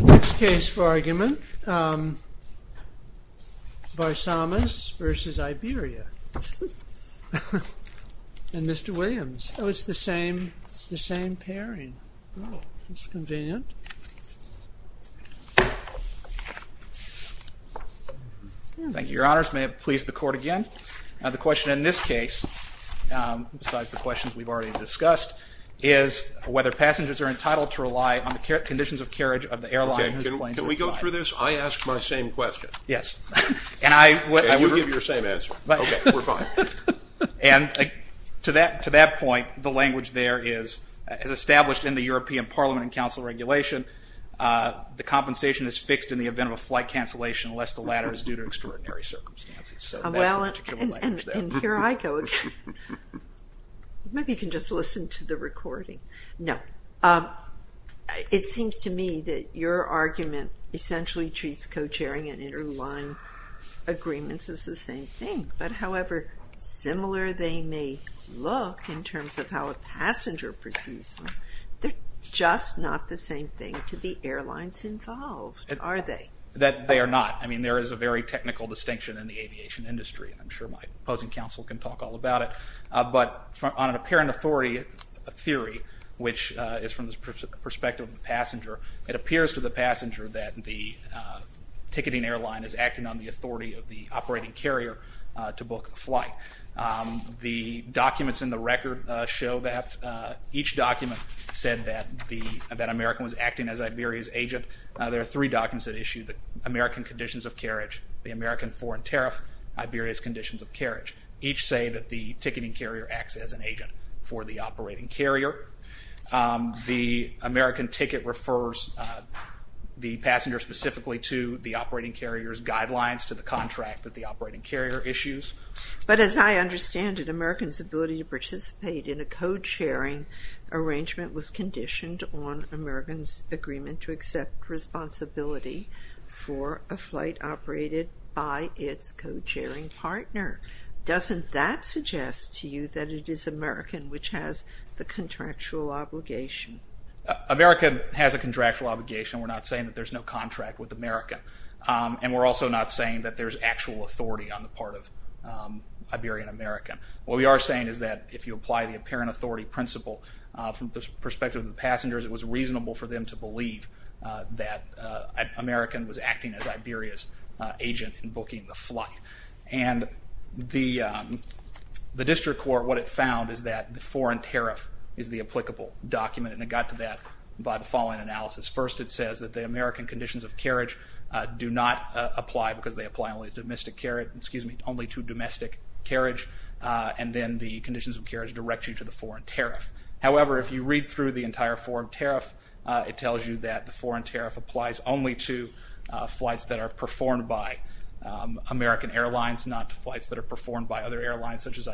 Next case for argument, Varsamis v. Iberia, and Mr. Williams. Oh, it's the same, the same pairing. Oh, that's convenient. Thank you, Your Honors. May it please the Court again. Now the question in this case, besides the questions we've already discussed, is whether passengers are entitled to rely on the conditions of the airline. Can we go through this? I asked my same question. Yes, and I would give your same answer. Okay, we're fine. And to that, to that point, the language there is, as established in the European Parliament and Council Regulation, the compensation is fixed in the event of a flight cancellation unless the latter is due to extraordinary circumstances. Well, and here I go again. Maybe you can just listen to the recording. No, it seems to me that your argument essentially treats co-chairing and interline agreements as the same thing, but however similar they may look in terms of how a passenger perceives them, they're just not the same thing to the airlines involved, are they? That they are not. I mean, there is a very technical distinction in the aviation industry. I'm sure my opposing counsel can talk all about it, but on an apparent authority, a theory which is from the perspective of the passenger, it appears to the passenger that the ticketing airline is acting on the authority of the operating carrier to book the flight. The documents in the record show that each document said that the, that America was acting as Iberia's agent. There are three documents that issue the American conditions of carriage, the American foreign tariff, Iberia's conditions of carriage. Each say that the ticketing carrier acts as an agent for the operating carrier. The American ticket refers the passenger specifically to the operating carrier's guidelines to the contract that the operating carrier issues. But as I understand it, Americans' ability to participate in a co-chairing arrangement was conditioned on Americans' agreement to accept responsibility for a flight operated by its co-chairing partner. Doesn't that address the contractual obligation? America has a contractual obligation. We're not saying that there's no contract with America. And we're also not saying that there's actual authority on the part of Iberian American. What we are saying is that if you apply the apparent authority principle from the perspective of the passengers, it was reasonable for them to believe that American was acting as Iberia's agent in booking the flight. And the District Court, what it found is that the foreign tariff is the applicable document. And it got to that by the following analysis. First, it says that the American conditions of carriage do not apply because they apply only to domestic carriage, excuse me, only to domestic carriage. And then the conditions of carriage direct you to the foreign tariff. However, if you read through the entire foreign tariff, it tells you that the foreign tariff applies only to flights that are performed by American Airlines, not to flights that are performed by other airlines. Second,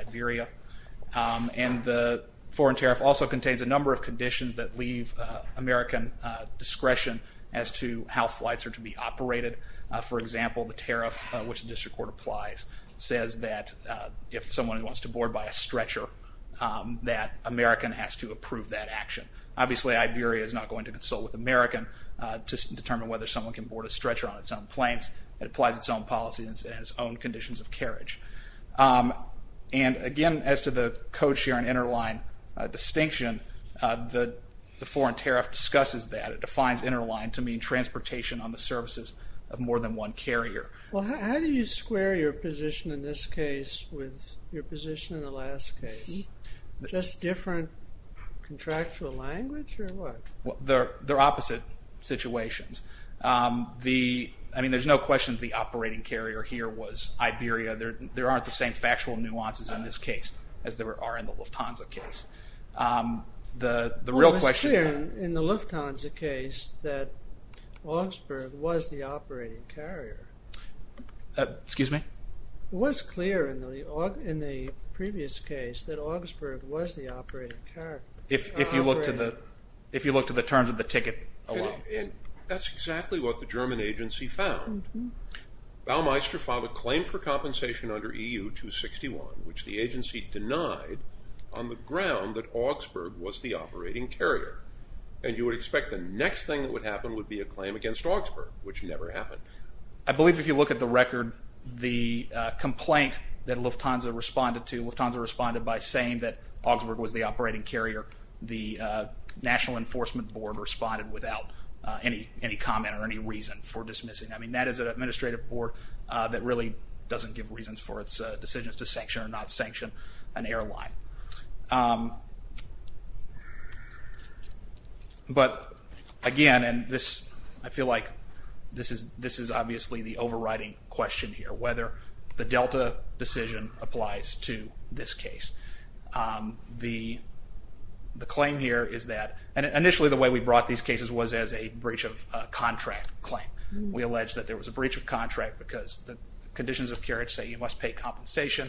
the foreign tariff also contains a number of conditions that leave American discretion as to how flights are to be operated. For example, the tariff which the District Court applies says that if someone wants to board by a stretcher that American has to approve that action. Obviously, Iberia is not going to consult with American to determine whether someone can board a stretcher on its own planes. It applies its own policies and its own conditions of interline distinction. The foreign tariff discusses that. It defines interline to mean transportation on the services of more than one carrier. Well, how do you square your position in this case with your position in the last case? Just different contractual language or what? Well, they're opposite situations. I mean, there's no question the operating carrier here was Iberia. There aren't the same factual nuances in this case as there are in the Lufthansa case. The real question... Well, it was clear in the Lufthansa case that Augsburg was the operating carrier. Excuse me? It was clear in the previous case that Augsburg was the operating carrier. If you look to the terms of the ticket alone. That's exactly what the German agency found. Baumeister filed a claim for the ground that Augsburg was the operating carrier. And you would expect the next thing that would happen would be a claim against Augsburg, which never happened. I believe if you look at the record, the complaint that Lufthansa responded to, Lufthansa responded by saying that Augsburg was the operating carrier. The National Enforcement Board responded without any comment or any reason for dismissing. I mean, that is an administrative board that really doesn't give reasons for its decisions to sanction or not sanction an airline. But again, and this I feel like this is obviously the overriding question here, whether the Delta decision applies to this case. The claim here is that, and initially the way we brought these cases was as a breach of contract claim. We conditions of carriage say you must pay compensation.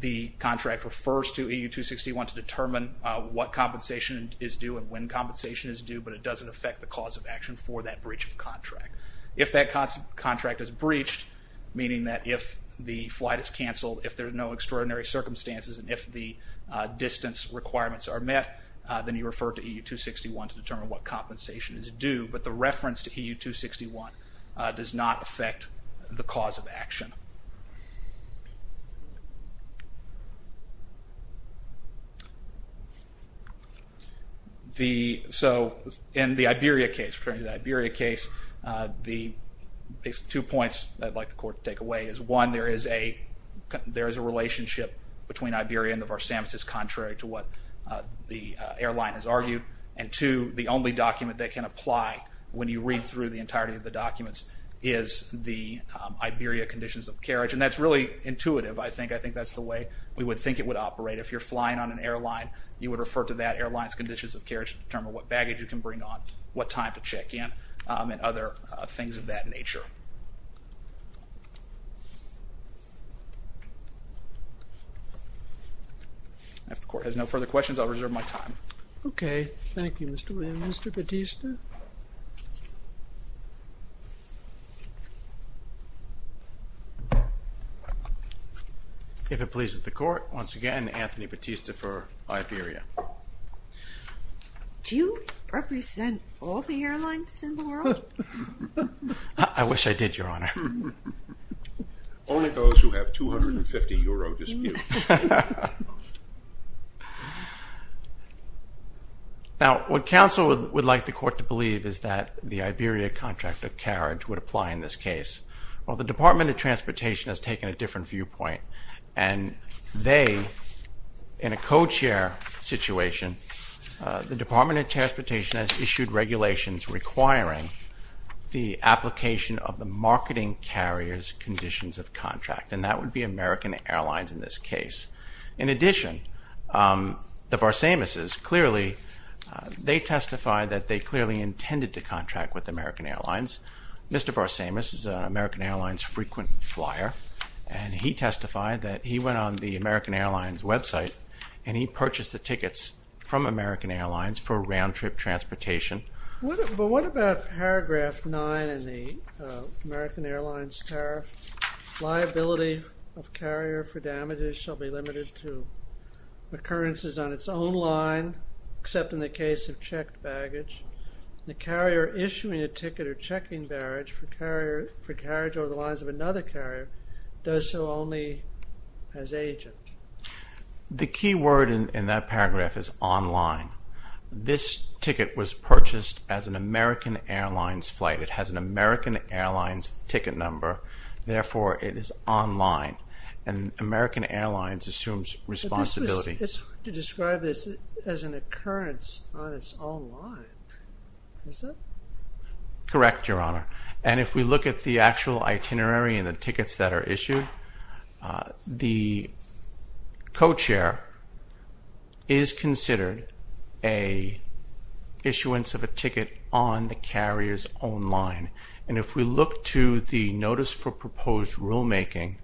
The contract refers to EU 261 to determine what compensation is due and when compensation is due, but it doesn't affect the cause of action for that breach of contract. If that contract is breached, meaning that if the flight is canceled, if there's no extraordinary circumstances, and if the distance requirements are met, then you refer to EU 261 to determine what compensation is due. But the reference to the cause of action. The, so in the Iberia case, referring to the Iberia case, the two points I'd like the court to take away is one, there is a relationship between Iberia and the Varsamis is contrary to what the airline has argued, and two, the only document that can apply when you read through the entirety of the documents is the Iberia conditions of carriage, and that's really intuitive, I think. I think that's the way we would think it would operate. If you're flying on an airline, you would refer to that airline's conditions of carriage to determine what baggage you can bring on, what time to check in, and other things of that nature. If the court has no further questions, I'll reserve my time. Okay, thank you Mr. Williams. Mr. Battista? If it pleases the court, once again, Anthony Battista for Iberia. Do you represent all the airlines in the world? I wish I did, Your Honor. Only those who have 250 euro disputes. Now what counsel would like the court to believe is that the Department of Transportation has taken a different viewpoint, and they, in a co-chair situation, the Department of Transportation has issued regulations requiring the application of the marketing carrier's conditions of contract, and that would be American Airlines in this case. In addition, the Varsamis is clearly, they testify that they clearly intended to contract with American Airlines frequent flyer, and he testified that he went on the American Airlines website, and he purchased the tickets from American Airlines for round-trip transportation. But what about paragraph 9 in the American Airlines tariff? Liability of carrier for damages shall be limited to occurrences on its own line, except in the case of checked baggage. The carrier issuing a ticket or carriage over the lines of another carrier does so only as agent. The key word in that paragraph is online. This ticket was purchased as an American Airlines flight. It has an American Airlines ticket number, therefore it is online, and American Airlines assumes responsibility. It's hard to describe this as an Correct, Your Honor. And if we look at the actual itinerary and the tickets that are issued, the co-chair is considered a issuance of a ticket on the carrier's own line, and if we look to the notice for proposed rulemaking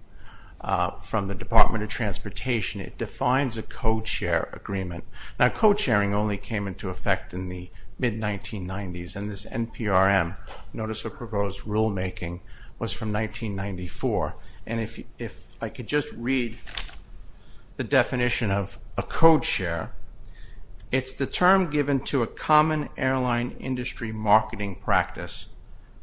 from the Department of Transportation, it defines a co-chair agreement. Now co-chairing only came into effect in the mid-1990s, and this NPRM, notice of proposed rulemaking, was from 1994. And if I could just read the definition of a co-chair, it's the term given to a common airline industry marketing practice,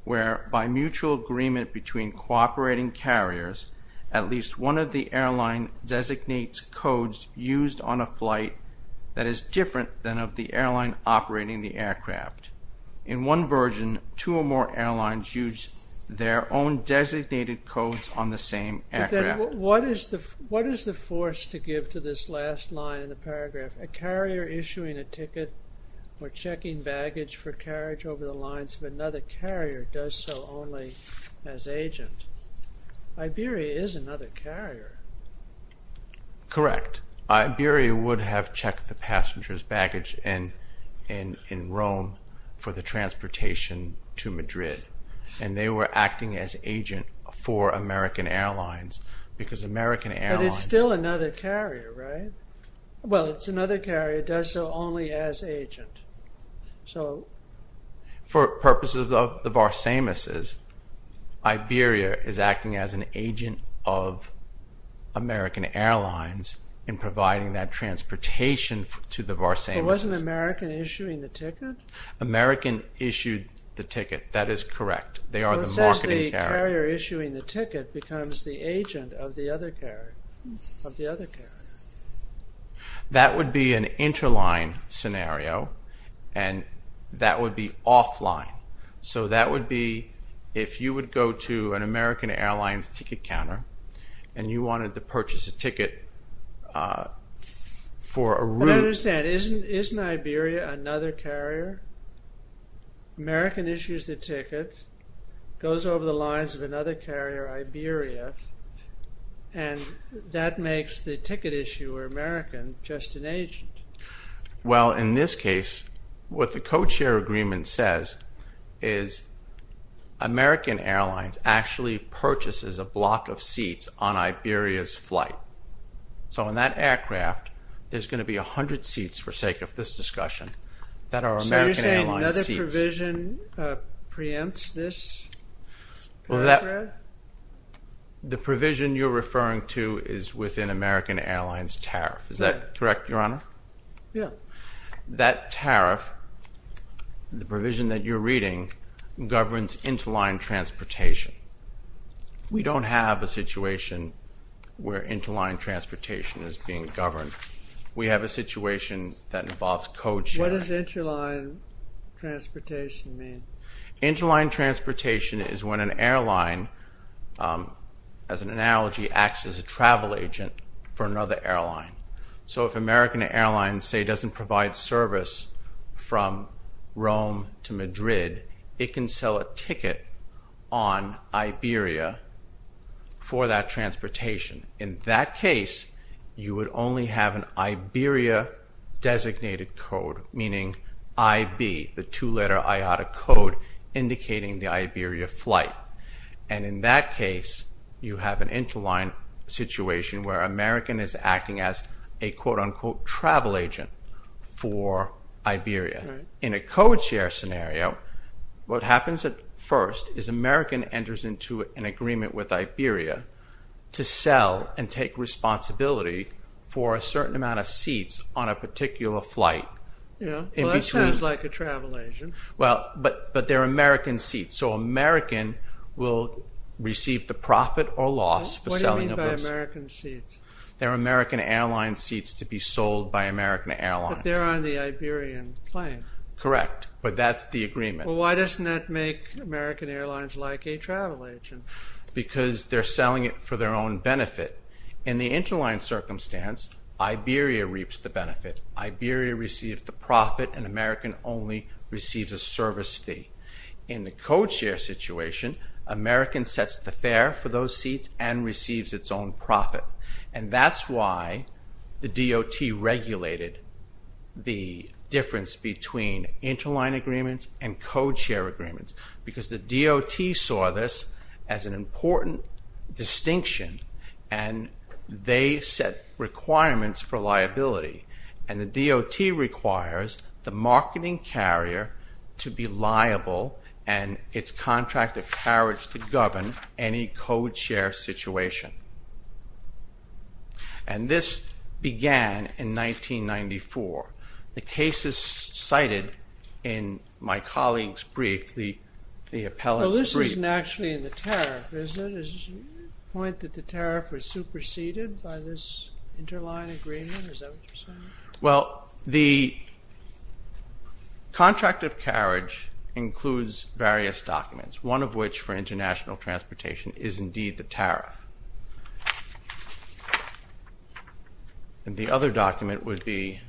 where by mutual agreement between cooperating carriers, at least one of the airline designates codes used on a flight that is different than of the airline operating the aircraft. In one version, two or more airlines use their own designated codes on the same aircraft. What is the force to give to this last line in the paragraph, a carrier issuing a ticket or checking baggage for carriage over the Correct. Iberia would have checked the passengers' baggage in Rome for the transportation to Madrid, and they were acting as agent for American Airlines because American Airlines... But it's still another carrier, right? Well, it's another carrier, it does so only as agent. So... For purposes of the Varsimises, Iberia is an agent of American Airlines in providing that transportation to the Varsimises. But wasn't American issuing the ticket? American issued the ticket, that is correct. They are the marketing carrier. But it says the carrier issuing the ticket becomes the agent of the other carrier, of the other carrier. That would be an interline scenario, and that would be ticket counter, and you wanted to purchase a ticket for a route... But I understand, isn't Iberia another carrier? American issues the ticket, goes over the lines of another carrier, Iberia, and that makes the ticket issuer, American, just an agent. Well, in this case, what the co-chair agreement says is American Airlines actually purchases a block of seats on Iberia's flight. So in that aircraft, there's going to be a hundred seats, for sake of this discussion, that are American Airlines seats. So you're saying another provision preempts this? The provision you're referring to is within American Airlines tariff, is that correct, Your Honor? Yeah. That tariff, the provision that you're reading, governs interline transportation. We don't have a situation where interline transportation is being governed. We have a situation that involves code sharing. What does interline transportation mean? Interline transportation is when an airline, as an analogy, acts as a travel agent for another airline. So if American Airlines, say, doesn't provide service from Rome to Madrid, it can sell a ticket on Iberia for that transportation. In that case, you would only have an Iberia-designated code, meaning IB, the two-letter IATA code indicating the Iberia flight. And in that case, you have an interline situation where American is acting as a, quote-unquote, travel agent for Iberia. In a code share scenario, what happens at first is American enters into an agreement with Iberia to sell and take responsibility for a certain amount of seats on a particular flight. That sounds like a travel agent. Well, but they're American seats, so American will receive the profit or loss for selling a person. What do you mean by American seats? They're American Airlines seats to be sold by American Airlines. But they're on the Iberian plane. Correct, but that's the agreement. Well, why doesn't that make American Airlines like a travel agent? Because they're selling it for their own benefit. In the interline circumstance, Iberia reaps the benefit. Iberia receives the profit and American only receives a service fee. In the code share situation, American sets the fare for those seats and receives its own profit. And that's why the DOT regulated the difference between interline agreements and code share agreements, because the DOT saw this as an important distinction and they set requirements for liability. And the DOT requires the marketing carrier to be liable and its contract of carriage to govern any code share situation. And this began in 1994. The case is cited in my colleague's brief. Well, this isn't actually in the tariff, is it? Is it a point that the tariff was superseded by this interline agreement? Well, the contract of carriage includes various documents, one of which, for international transportation, is indeed the tariff. And the other document would be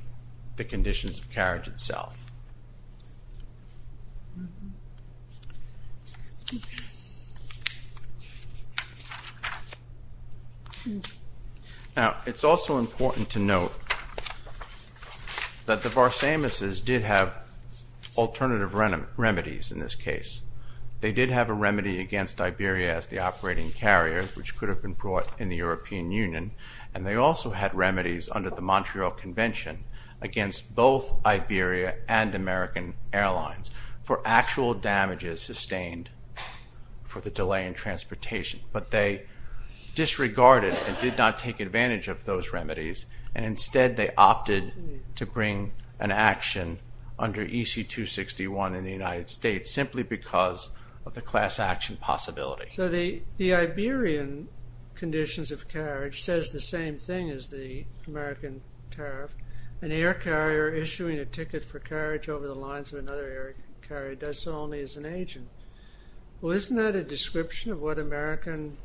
the conditions of carriage itself. Now, it's also important to note that the Varsamis' did have alternative remedies in this case. They did have a remedy against Iberia as the operating carrier, which could have been brought in the European Union, and they also had remedies under the Montreal Convention against both Iberia and American Airlines for actual damages sustained for the delay in transportation. But they disregarded and did not take advantage of those remedies and instead they opted to bring an action under EC 261 in the United States simply because of the class action possibility. So the Iberian conditions of carriage says the same thing as the American tariff. An air carrier issuing a ticket for carriage over the lines of another air carrier does so only as an agent. Well, isn't that a description of what American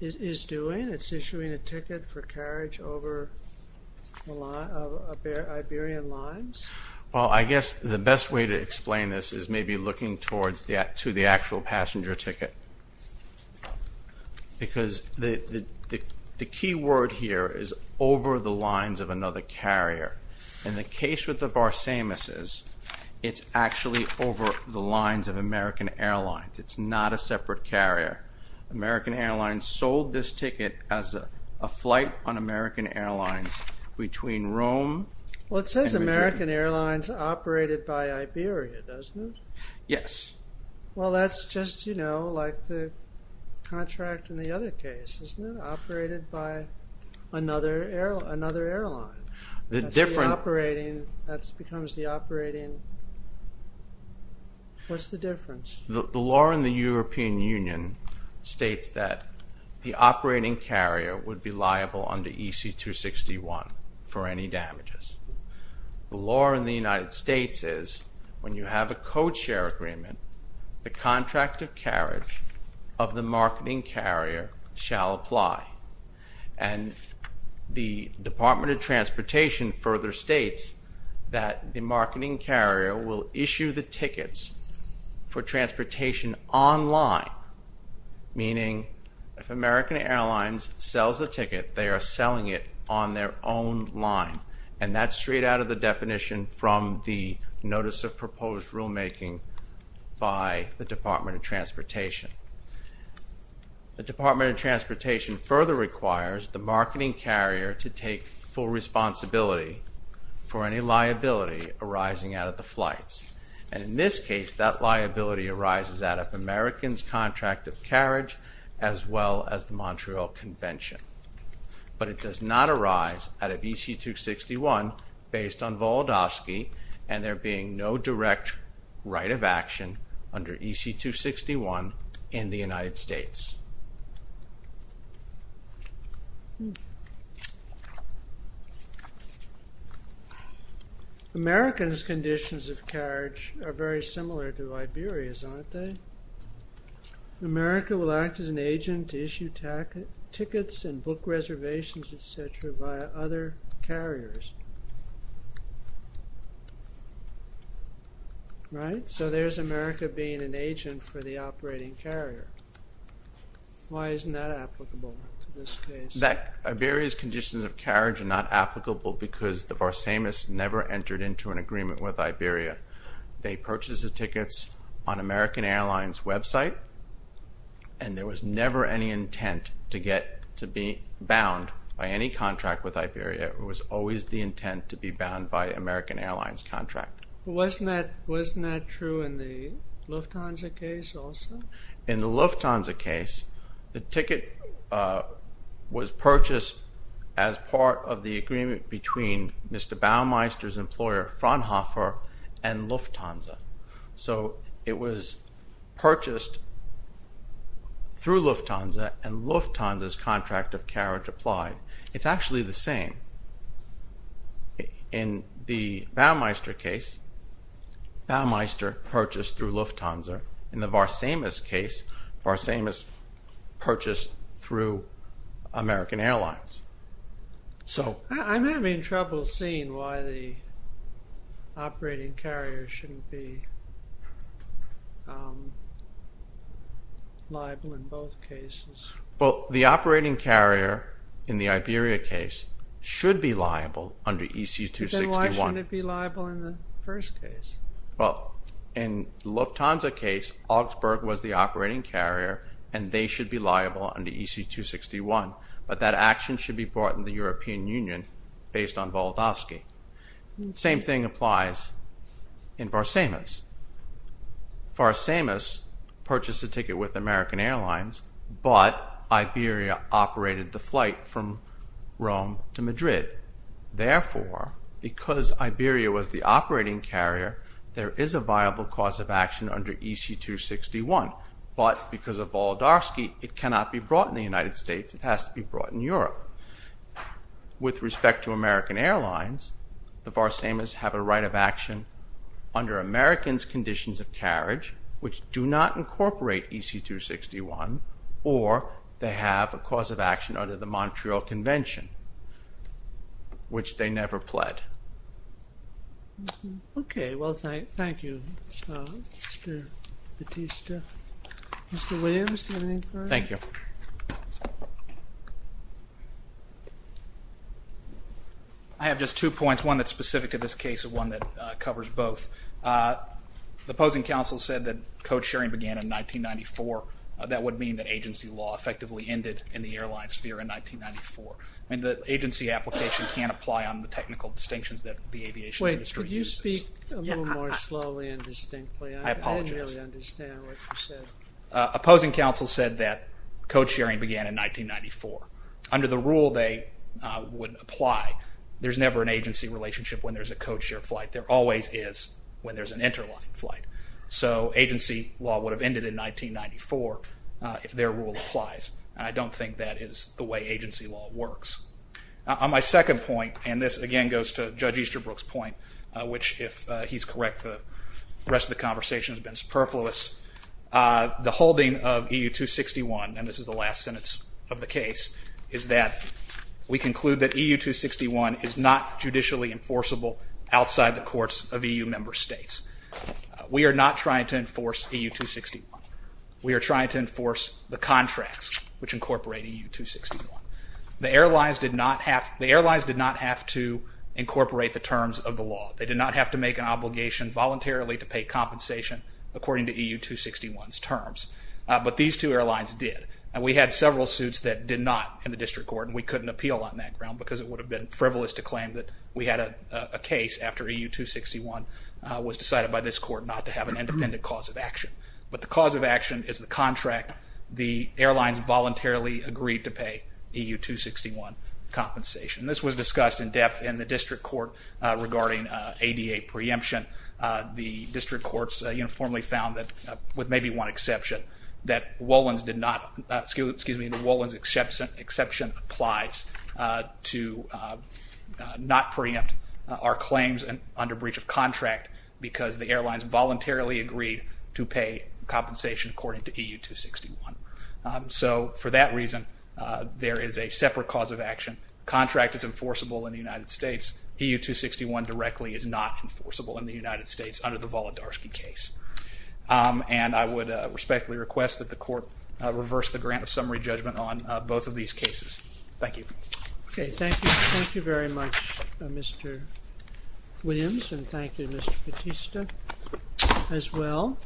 is doing? It's issuing a ticket for carriage over Iberian lines? Well, I guess the best way to explain this is maybe looking towards the actual passenger ticket, because the key word here is over the lines of another carrier. In the case with the Varsamis', it's actually over the lines of American Airlines. It's not a separate carrier. American Airlines sold this ticket as a flight on American Airlines between Rome... Well, it says American Airlines operated by Iberia, doesn't it? Yes. Well, that's just, you know, like the contract in the other case, isn't it? Operated by another airline. The difference... That becomes the operating... What's the difference? The law in the European Union states that the operating ticket is 261 for any damages. The law in the United States is when you have a code share agreement, the contract of carriage of the marketing carrier shall apply. And the Department of Transportation further states that the marketing carrier will issue the tickets for transportation online, meaning if American Airlines sells a ticket, they are selling it on their own line. And that's straight out of the definition from the Notice of Proposed Rulemaking by the Department of Transportation. The Department of Transportation further requires the marketing carrier to take full responsibility for any liability arising out of the flights. And in this case, that liability arises out of American's contract of carriage as well as the Montreal Convention. But it does not arise out of EC-261 based on Volodovsky, and there being no direct right of action under EC-261 in the United States. Americans' conditions of carriage are very similar to Liberia's, aren't they? America will act as an agent to issue tickets and book reservations, etc., via other carriers. Right? So there's America being an agent for the operating carrier. Why isn't that applicable to this case? Liberia's conditions of carriage are not applicable because the Barsamus never entered into an agreement with Liberia. They purchased the tickets on American Airlines' website, and there was never any intent to get to be bound by any contract with Liberia. It was always the intent to be bound by American Airlines' contract. Wasn't that true in the Lufthansa case also? In the Lufthansa case, the ticket was purchased as part of the agreement between Mr. Baumeister's employer Fraunhofer and Lufthansa. So it was purchased through Lufthansa, and Lufthansa's contract of carriage applied. It's actually the same. In the Baumeister case, Baumeister purchased through Lufthansa. In the Barsamus case, Barsamus purchased through American Airlines. I'm having trouble seeing why the operating carrier shouldn't be liable in both cases. The operating carrier in the Liberia case should be liable under EC 261. Then why shouldn't it be liable in the first case? In the Lufthansa case, Augsburg was the operating carrier, and they should be liable under EC 261. But that action should be brought to the European Union based on Volodovsky. The same thing applies in Barsamus. Barsamus purchased the ticket with American Airlines, but Liberia operated the flight from Rome to Madrid. Therefore, because Liberia was the operating carrier, there is a viable cause of action under EC 261. But because of Volodovsky, it cannot be brought in the United States. It has to be brought in Europe. With respect to American Airlines, the Barsamus have a right of action under American's conditions of carriage, which do not incorporate EC 261, or they have a cause of action under the Montreal Convention, which they never pled. Okay. Well, thank you, Mr. Batista. Mr. Williams, do you have anything further? I have just two points, one that's specific to this case and one that covers both. The opposing counsel said that code sharing began in 1994. That would mean that agency law effectively ended in the airline sphere in 1994. I mean, the agency application can't apply on the technical distinctions that the aviation industry uses. Wait, could you speak a little more slowly and distinctly? I didn't really understand what you said. Opposing counsel said that code sharing began in 1994. Under the rule, they would apply. There's never an agency relationship when there's a code share flight. There always is when there's an interline flight. So agency law would have ended in 1994 if their rule applies. I don't think that is the way agency law works. On my second point, and this again goes to Judge Easterbrook's point, which if he's correct, the rest of the conversation has been superfluous. The holding of EU 261, and this is the last sentence of the case, is that we conclude that EU 261 is not judicially enforceable outside the courts of EU member states. We are not trying to enforce EU 261. We are trying to enforce the contracts which incorporate EU 261. The airlines did not have to incorporate the terms of the law. They did not have to make an obligation voluntarily to pay compensation according to EU 261's terms. But these two airlines did. We had several suits that did not in the district court and we couldn't appeal on that ground because it would have been frivolous to claim that we had a case after EU 261 was decided by this court not to have an independent cause of action. But the cause of action is the contract the airlines voluntarily agreed to pay EU 261 compensation. This was discussed in depth in the district court regarding ADA preemption. The district courts uniformly found that, with maybe one exception, that Wolin's exception applies to not preempt our claims under breach of contract because the airlines voluntarily agreed to pay compensation according to EU 261. For that reason, there is a separate cause of action. Contract is enforceable in the United States. EU 261 directly is not enforceable in the United States under the Volodarsky case. I would respectfully request that the court reverse the grant of summary judgment on both of these cases. Thank you. Thank you very much Mr. Williams and thank you Mr. Batista as well.